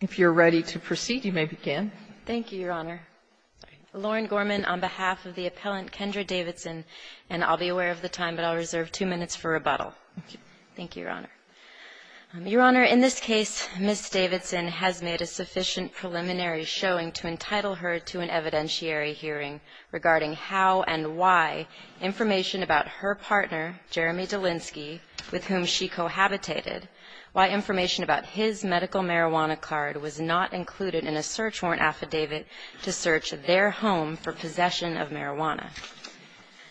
on behalf of the appellant Kendra Davidson, and I'll be aware of the time, but I'll reserve two minutes for rebuttal. Thank you, Your Honor. Your Honor, in this case, Ms. Davidson has made a sufficient preliminary showing to entitle her to an evidentiary hearing regarding how and why information about her partner, Jeremy Dolinsky, with whom she cohabitated, why information about his medical marijuana card was not included in a search warrant affidavit to search their home for possession of marijuana.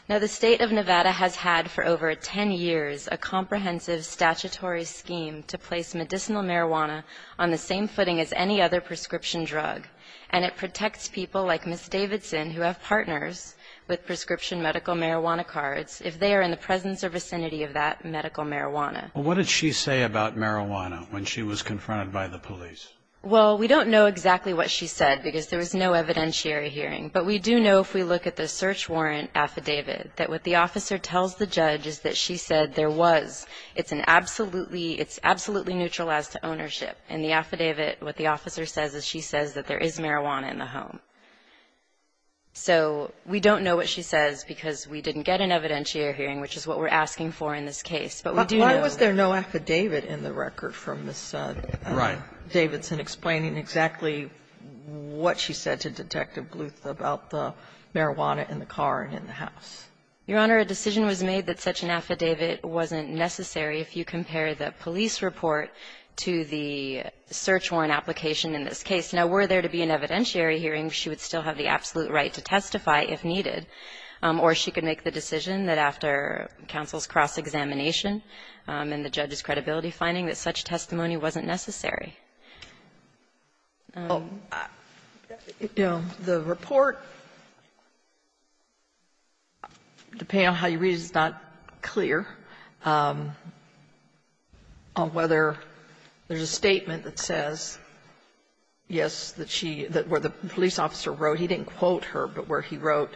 Now, the State of Nevada has had for over ten years a comprehensive statutory scheme to place medicinal marijuana on the same footing as any other prescription drug, and it is there in the presence or vicinity of that medical marijuana. Well, what did she say about marijuana when she was confronted by the police? Well, we don't know exactly what she said because there was no evidentiary hearing, but we do know if we look at the search warrant affidavit that what the officer tells the judge is that she said there was, it's an absolutely, it's absolutely neutral as to ownership. In the affidavit, what the officer says is she But why was there no affidavit in the record from Ms. Davidson explaining exactly what she said to Detective Bluth about the marijuana in the car and in the house? Your Honor, a decision was made that such an affidavit wasn't necessary if you compare the police report to the search warrant application in this case. Now, were there to be an evidentiary hearing, she would still have the absolute right to testify if needed, or she could make the decision that after counsel's cross-examination and the judge's credibility finding that such testimony wasn't necessary. The report, depending on how you read it, is not clear on whether there's a statement that says, yes, that she, that what the police officer wrote, he didn't quote her, but where he wrote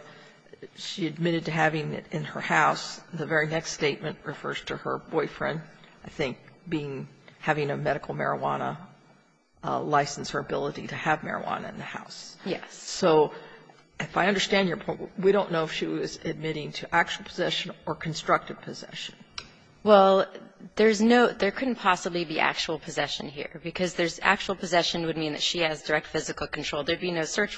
she admitted to having it in her house, the very next statement refers to her boyfriend, I think, being, having a medical marijuana license or ability to have marijuana in the house. Yes. So if I understand your point, we don't know if she was admitting to actual possession or constructive possession. Well, there's no, there couldn't possibly be actual possession here, because there's no search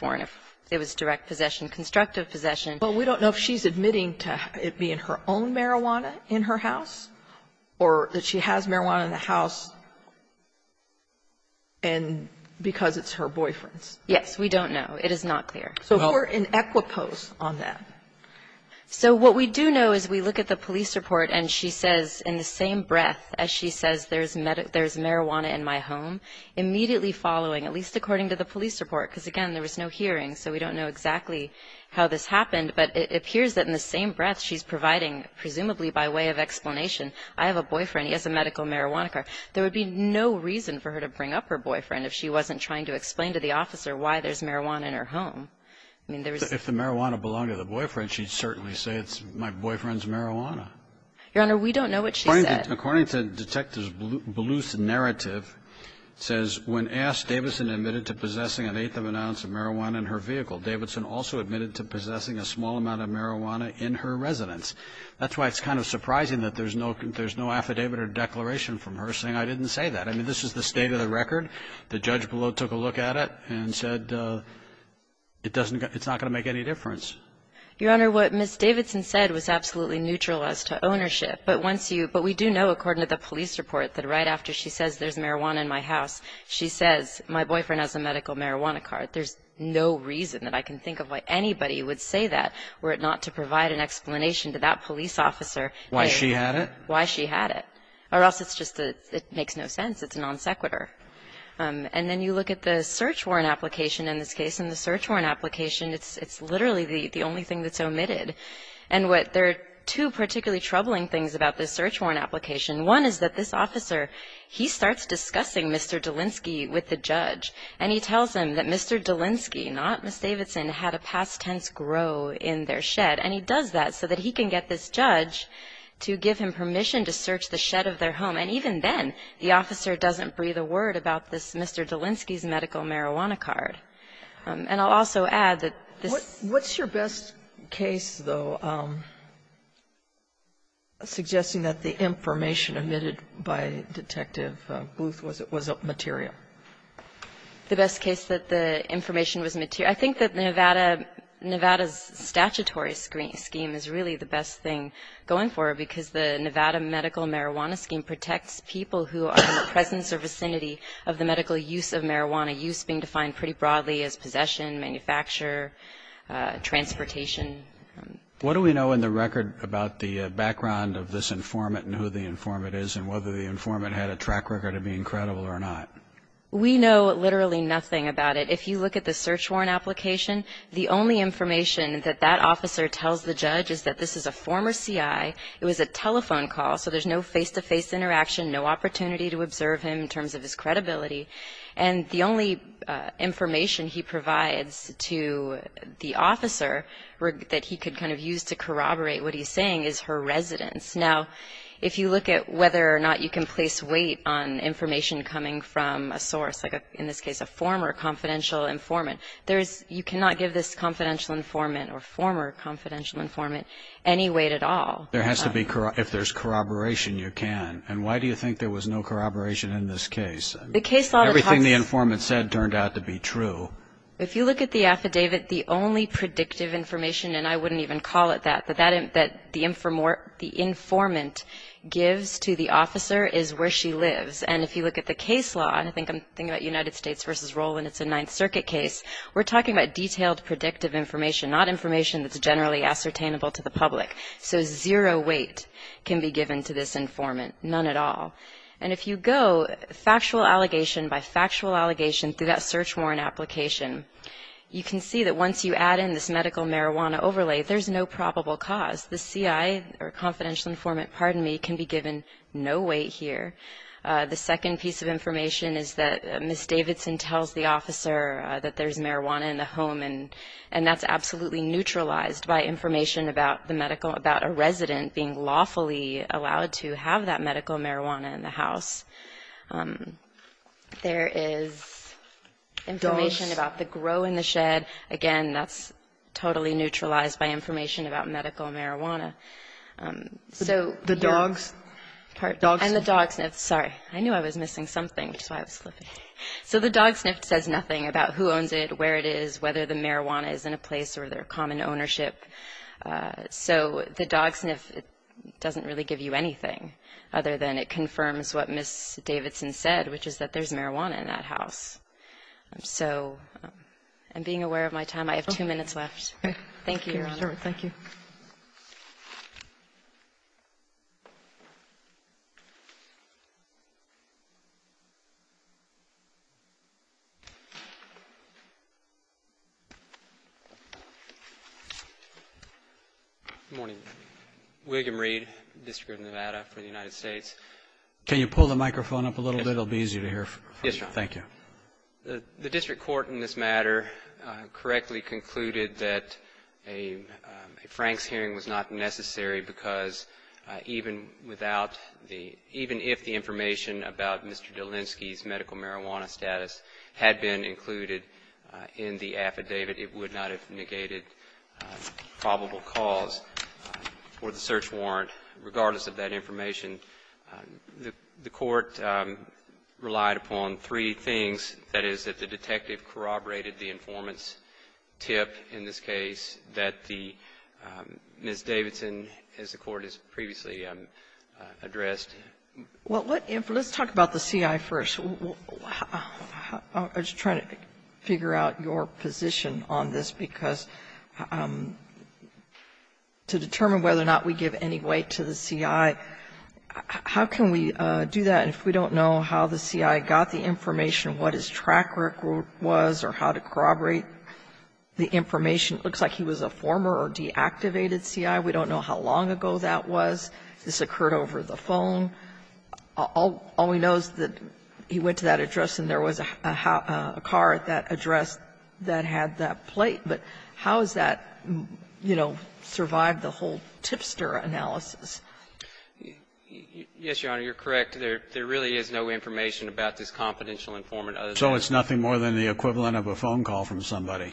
warrant if it was direct possession, constructive possession. Well, we don't know if she's admitting to it being her own marijuana in her house or that she has marijuana in the house and because it's her boyfriend's. Yes. We don't know. It is not clear. So if we're in equipoise on that. So what we do know is we look at the police report, and she says in the same breath as she says there's marijuana in my home, immediately following, at least according to the police report, because, again, there was no hearing, so we don't know exactly how this happened, but it appears that in the same breath she's providing, presumably by way of explanation, I have a boyfriend, he has a medical marijuana card. There would be no reason for her to bring up her boyfriend if she wasn't trying to explain to the officer why there's marijuana in her home. I mean, there was no reason. If the marijuana belonged to the boyfriend, she'd certainly say it's my boyfriend's marijuana. Your Honor, we don't know what she said. According to Detective Beluse's narrative, it says when asked, Davidson admitted to possessing an eighth of an ounce of marijuana in her vehicle. Davidson also admitted to possessing a small amount of marijuana in her residence. That's why it's kind of surprising that there's no affidavit or declaration from her saying I didn't say that. I mean, this is the state of the record. The judge below took a look at it and said it's not going to make any difference. Your Honor, what Ms. Davidson said was absolutely neutral as to ownership, but we do know, according to the police report, that right after she says there's marijuana in my house, she says my boyfriend has a medical marijuana card. There's no reason that I can think of why anybody would say that were it not to provide an explanation to that police officer. Why she had it? Why she had it. Or else it's just that it makes no sense. It's a non sequitur. And then you look at the search warrant application in this case, and the search warrant application, it's literally the only thing that's omitted. And what there are two particularly troubling things about this search warrant application. One is that this officer, he starts discussing Mr. Delinsky with the judge, and he tells him that Mr. Delinsky, not Ms. Davidson, had a past tense grow in their shed. And he does that so that he can get this judge to give him permission to search the shed of their home. And even then, the officer doesn't breathe a word about this Mr. Delinsky's medical marijuana card. And I'll also add that this ---- What's your best case, though, suggesting that the information omitted by Detective Bluth was material? The best case that the information was material? I think that Nevada's statutory scheme is really the best thing going forward because the Nevada medical marijuana scheme protects people who are in the presence or vicinity of the medical use of marijuana. Use being defined pretty broadly as possession, manufacture, transportation. What do we know in the record about the background of this informant and who the informant is, and whether the informant had a track record of being credible or not? We know literally nothing about it. If you look at the search warrant application, the only information that that officer tells the judge is that this is a former CI. It was a telephone call, so there's no face-to-face interaction, no opportunity to observe him in terms of his credibility. And the only information he provides to the officer that he could kind of use to corroborate what he's saying is her residence. Now, if you look at whether or not you can place weight on information coming from a source, like in this case a former confidential informant, there is ---- you cannot give this confidential informant or former confidential informant any weight at all. There has to be ---- if there's corroboration, you can. And why do you think there was no corroboration in this case? Everything the informant said turned out to be true. If you look at the affidavit, the only predictive information, and I wouldn't even call it that, that the informant gives to the officer is where she lives. And if you look at the case law, and I think I'm thinking about United States versus Rowland, it's a Ninth Circuit case, we're talking about detailed predictive information, not information that's generally ascertainable to the public. So zero weight can be given to this informant, none at all. And if you go factual allegation by factual allegation through that search warrant application, you can see that once you add in this medical marijuana overlay, there's no probable cause. The C.I. or confidential informant, pardon me, can be given no weight here. The second piece of information is that Ms. Davidson tells the officer that there's marijuana in the home, and that's absolutely neutralized by information about the medical, about a resident being lawfully allowed to have that medical marijuana in the house. There is information about the grow in the shed. Again, that's totally neutralized by information about medical marijuana. So, you know. And the dog sniffed. Sorry. I knew I was missing something, which is why I was flipping. So the dog sniffed says nothing about who owns it, where it is, whether the So the dog sniff doesn't really give you anything other than it confirms what Ms. Davidson said, which is that there's marijuana in that house. So I'm being aware of my time. I have two minutes left. Thank you, Your Honor. Thank you. Good morning. William Reed, District of Nevada for the United States. Can you pull the microphone up a little bit? It will be easier to hear. Yes, Your Honor. Thank you. The district court in this matter correctly concluded that a Franks hearing was not necessary because even without the – even if the information about Mr. Dolinsky's medical marijuana status had been included in the affidavit, it would not have negated probable cause for the search warrant, regardless of that information. The court relied upon three things, that is, that the detective corroborated the informant's tip in this case, that the – Ms. Davidson, as the court has previously addressed. Well, let's talk about the CI first. I'm just trying to figure out your position on this, because to determine whether or not we give any weight to the CI, how can we do that if we don't know how the CI got the information, what his track record was or how to corroborate the information? It looks like he was a former or deactivated CI. We don't know how long ago that was. This occurred over the phone. All we know is that he went to that address and there was a car at that address that had that plate. But how has that, you know, survived the whole tipster analysis? Yes, Your Honor, you're correct. There really is no information about this confidential informant other than that. So it's nothing more than the equivalent of a phone call from somebody.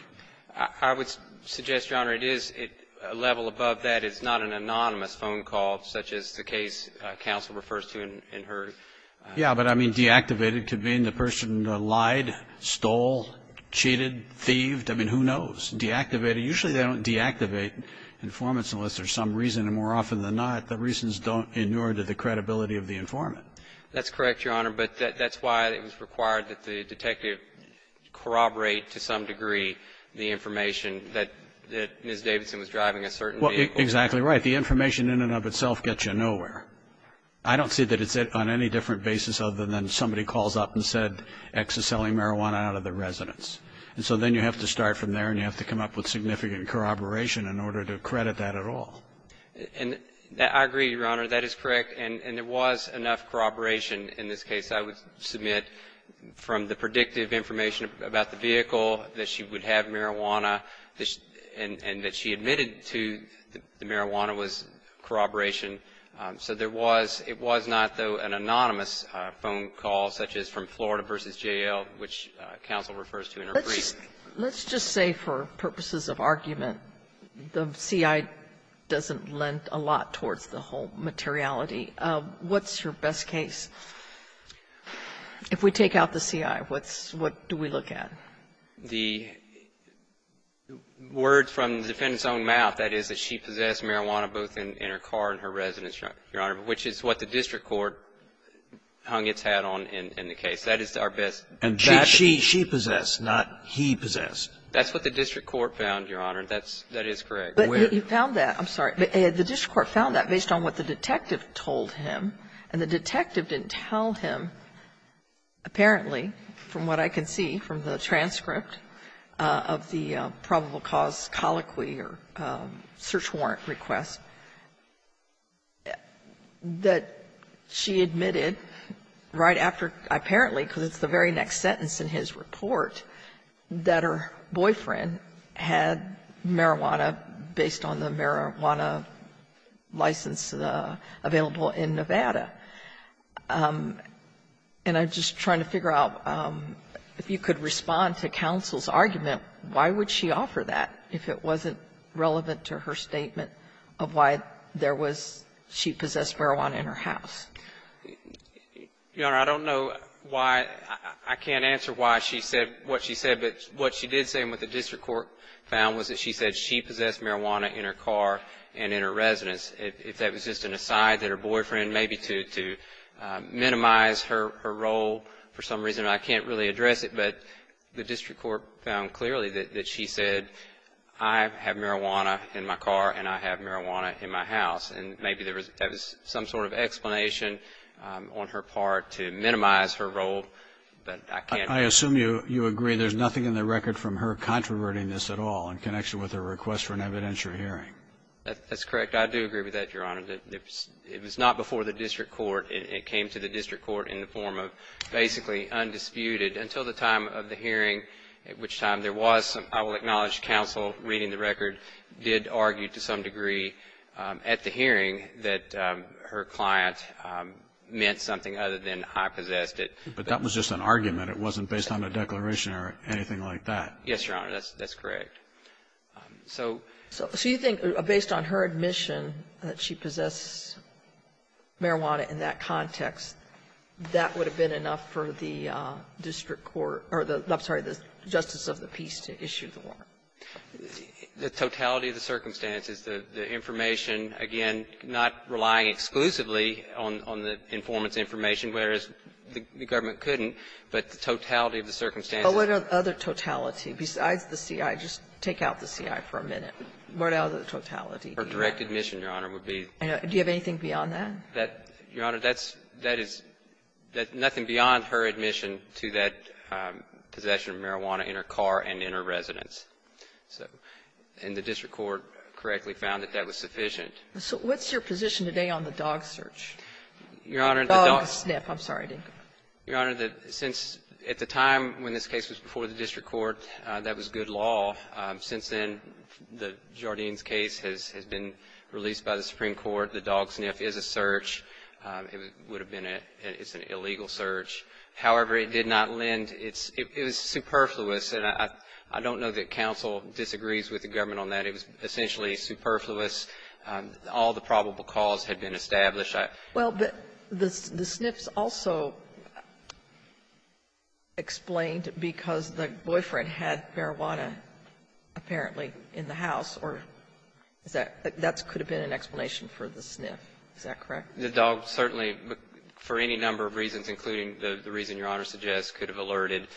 I would suggest, Your Honor, it is at a level above that. It's not an anonymous phone call such as the case counsel refers to in her. Yes, but I mean deactivated could mean the person lied, stole, cheated, thieved. I mean, who knows? Deactivated, usually they don't deactivate informants unless there's some reason. And more often than not, the reasons don't inure to the credibility of the informant. That's correct, Your Honor, but that's why it was required that the detective corroborate to some degree the information that Ms. Davidson was driving a certain vehicle. Well, exactly right. The information in and of itself gets you nowhere. I don't see that it's on any different basis other than somebody calls up and said, X is selling marijuana out of the residence. And so then you have to start from there and you have to come up with significant corroboration in order to credit that at all. And I agree, Your Honor. That is correct. And there was enough corroboration in this case. I would submit from the predictive information about the vehicle that she would have marijuana and that she admitted to the marijuana was corroboration. So there was, it was not, though, an anonymous phone call such as from Florida versus J.L., which counsel refers to in her brief. Let's just say for purposes of argument, the CI doesn't lend a lot towards the whole materiality. What's your best case? If we take out the CI, what's, what do we look at? The word from the defendant's own mouth, that is that she possessed marijuana both in her car and her residence, Your Honor, which is what the district court hung its hat on in the case. That is our best. And she possessed, not he possessed. That's what the district court found, Your Honor. That's, that is correct. But you found that. I'm sorry. The district court found that based on what the detective told him. And the detective didn't tell him, apparently, from what I can see from the transcript of the probable cause colloquy or search warrant request, that she admitted right after, apparently, because it's the very next sentence in his report, that her boyfriend had marijuana based on the marijuana license available in Nevada. And I'm just trying to figure out if you could respond to counsel's argument, why would she offer that if it wasn't relevant to her statement of why there was, she possessed marijuana in her house? Your Honor, I don't know why. I can't answer why she said what she said. But what she did say and what the district court found was that she said she possessed marijuana in her car and in her residence. If that was just an aside that her boyfriend, maybe to minimize her role for some reason, I can't really address it. But the district court found clearly that she said, I have marijuana in my car and I have marijuana in my house. And maybe there was some sort of explanation on her part to minimize her role. But I can't. I assume you agree there's nothing in the record from her controverting this at all in connection with her request for an evidentiary hearing. That's correct. I do agree with that, Your Honor. It was not before the district court. It came to the district court in the form of basically undisputed until the time of the hearing, at which time there was, I will acknowledge counsel reading the record, did argue to some degree at the hearing that her client meant something other than I possessed it. But that was just an argument. It wasn't based on a declaration or anything like that. Yes, Your Honor. That's correct. So you think, based on her admission that she possesses marijuana in that context, that would have been enough for the district court or the Justice of the Peace to issue the warrant? The totality of the circumstances, the information, again, not relying exclusively on the informant's information, whereas the government couldn't, but the totality of the circumstances. But what other totality besides the C.I.? Just take out the C.I. for a minute. What other totality? Her direct admission, Your Honor, would be. Do you have anything beyond that? That, Your Honor, that is nothing beyond her admission to that possession of marijuana in her car and in her residence. So and the district court correctly found that that was sufficient. So what's your position today on the dog search? Your Honor, the dog sniff. I'm sorry. Your Honor, since at the time when this case was before the district court, that was good law. Since then, the Jardine's case has been released by the Supreme Court. The dog sniff is a search. It would have been a illegal search. However, it did not lend. It was superfluous. And I don't know that counsel disagrees with the government on that. It was essentially superfluous. All the probable cause had been established. Well, but the sniff's also explained because the boyfriend had marijuana, apparently, in the house, or that could have been an explanation for the sniff. Is that correct? The dog certainly, for any number of reasons, including the reason Your Honor suggests, could have alerted.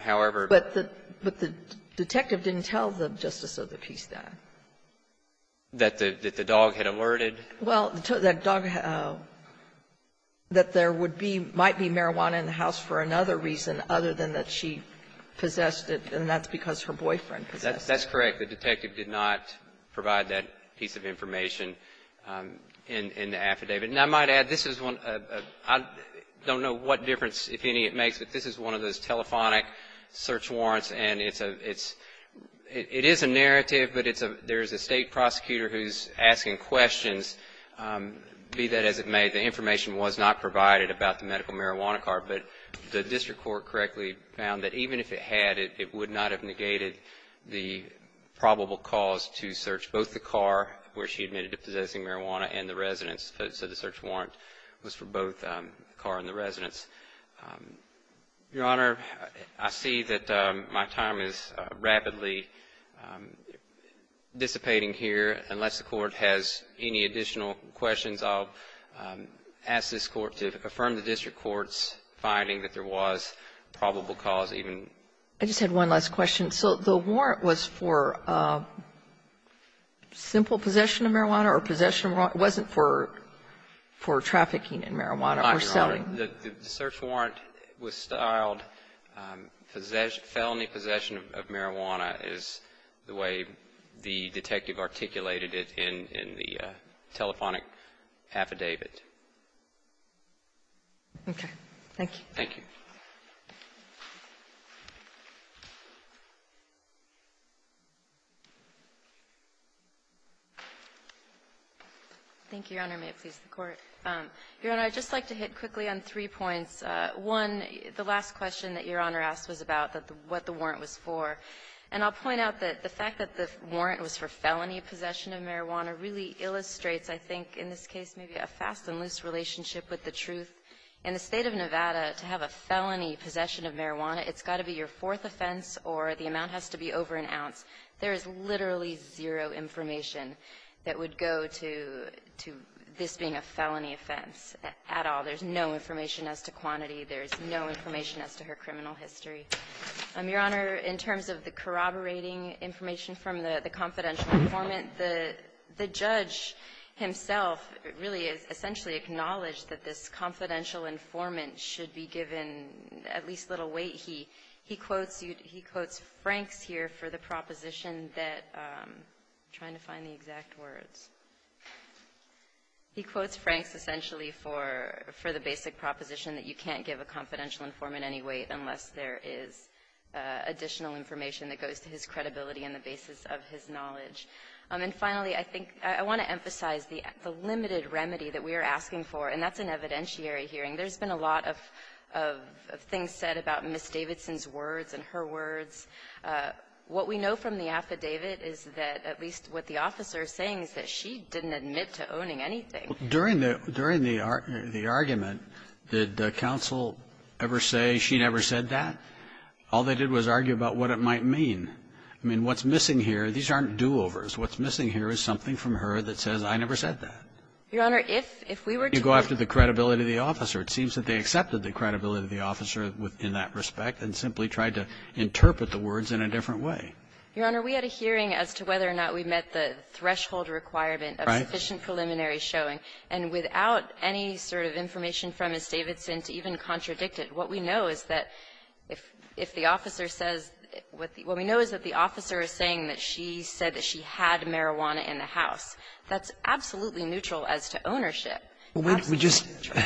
However the But the detective didn't tell the Justice of the Peace that. That the dog had alerted? Well, the dog, that there would be, might be marijuana in the house for another reason other than that she possessed it, and that's because her boyfriend possessed it. That's correct. The detective did not provide that piece of information in the affidavit. And I might add, this is one, I don't know what difference, if any, it makes, but this is one of those telephonic search warrants, and it's a, it's, it is a narrative, but it's a, there's a state prosecutor who's asking questions, be that as it may, the information was not provided about the medical marijuana card. But the district court correctly found that even if it had, it would not have negated the probable cause to search both the car where she admitted to possessing marijuana and the residence. So the search warrant was for both the car and the residence. Your Honor, I see that my time is rapidly dissipating here. Unless the Court has any additional questions, I'll ask this Court to affirm the district court's finding that there was probable cause even. I just had one last question. So the warrant was for simple possession of marijuana or possession of marijuana or it wasn't for trafficking in marijuana or selling? The search warrant was styled felony possession of marijuana is the way the detective articulated it in the telephonic affidavit. Okay. Thank you. Thank you. Thank you, Your Honor. May it please the Court. Your Honor, I'd just like to hit quickly on three points. One, the last question that Your Honor asked was about what the warrant was for. And I'll point out that the fact that the warrant was for felony possession of marijuana really illustrates, I think, in this case, maybe a fast and loose relationship with the truth. In the State of Nevada, to have a felony possession of marijuana, it's got to be your fourth offense or the amount has to be over an ounce. There is literally zero information that would go to this being a felony offense at all. There's no information as to quantity. There's no information as to her criminal history. Your Honor, in terms of the corroborating information from the confidential informant, the judge himself really has essentially acknowledged that this confidential informant should be given at least a little weight. He quotes Franks here for the proposition that you can't give a confidential informant any weight unless there is additional information that goes to his credibility and the basis of his knowledge. And finally, I think I want to emphasize the limited remedy that we are asking for, and that's an evidentiary hearing. There's been a lot of things said about Ms. Davidson's words and her words. What we know from the affidavit is that at least what the officer is saying is that she didn't admit to owning anything. Well, during the argument, did counsel ever say she never said that? All they did was argue about what it might mean. I mean, what's missing here, these aren't do-overs. What's missing here is something from her that says, I never said that. Your Honor, if we were to go after the credibility of the officer, it seems that they accepted the credibility of the officer in that respect and simply tried to interpret the words in a different way. Your Honor, we had a hearing as to whether or not we met the threshold requirement of sufficient preliminary showing. And without any sort of information from Ms. Davidson to even contradict it, what we know is that if the officer says what the – what we know is that the defendant had marijuana in the house, that's absolutely neutral as to ownership. Absolutely neutral.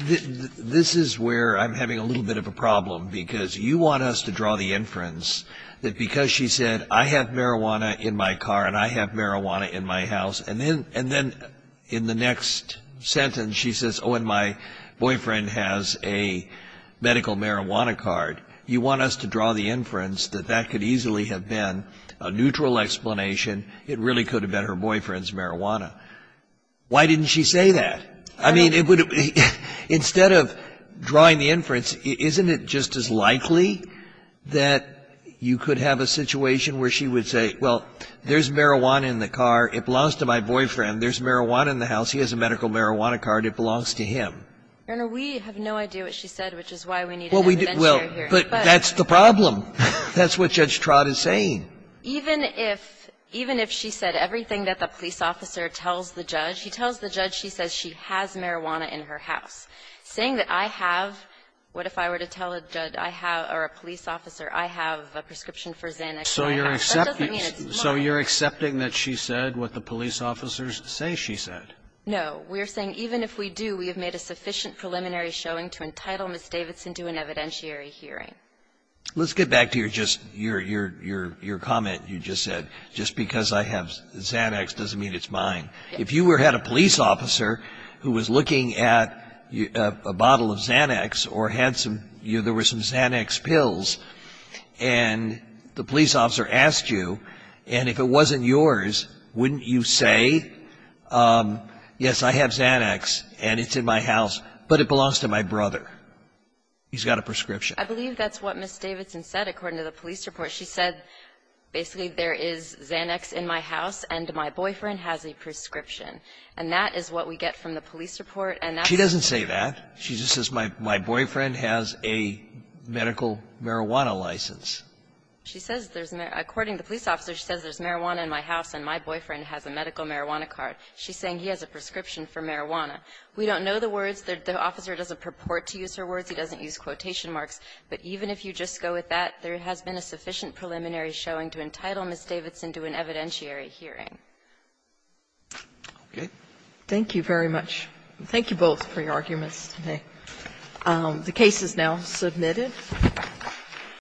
This is where I'm having a little bit of a problem, because you want us to draw the inference that because she said, I have marijuana in my car and I have marijuana in my house, and then in the next sentence she says, oh, and my boyfriend has a medical marijuana card. You want us to draw the inference that that could easily have been a neutral explanation. It really could have been her boyfriend's marijuana. Why didn't she say that? I mean, it would have been – instead of drawing the inference, isn't it just as likely that you could have a situation where she would say, well, there's marijuana in the car, it belongs to my boyfriend, there's marijuana in the house, he has a medical marijuana card, it belongs to him? Your Honor, we have no idea what she said, which is why we need an adventurer hearing. But that's the problem. That's what Judge Trott is saying. Even if – even if she said everything that the police officer tells the judge, he tells the judge she says she has marijuana in her house. Saying that I have – what if I were to tell a judge I have – or a police officer I have a prescription for Xanax. So you're accepting that she said what the police officers say she said? No. We're saying even if we do, we have made a sufficient preliminary showing to entitle Ms. Davidson to an evidentiary hearing. Let's get back to your just – your comment you just said. Just because I have Xanax doesn't mean it's mine. If you had a police officer who was looking at a bottle of Xanax or had some – there were some Xanax pills, and the police officer asked you, and if it wasn't yours, wouldn't you say, yes, I have Xanax and it's in my house, but it belongs to my brother. He's got a prescription. I believe that's what Ms. Davidson said according to the police report. She said basically there is Xanax in my house and my boyfriend has a prescription. And that is what we get from the police report. She doesn't say that. She just says my boyfriend has a medical marijuana license. She says there's – according to the police officer, she says there's marijuana in my house and my boyfriend has a medical marijuana card. She's saying he has a prescription for marijuana. We don't know the words. The officer doesn't purport to use her words. He doesn't use quotation marks. But even if you just go with that, there has been a sufficient preliminary showing to entitle Ms. Davidson to an evidentiary hearing. Sotomayor. Thank you very much. Thank you both for your arguments today. The case is now submitted.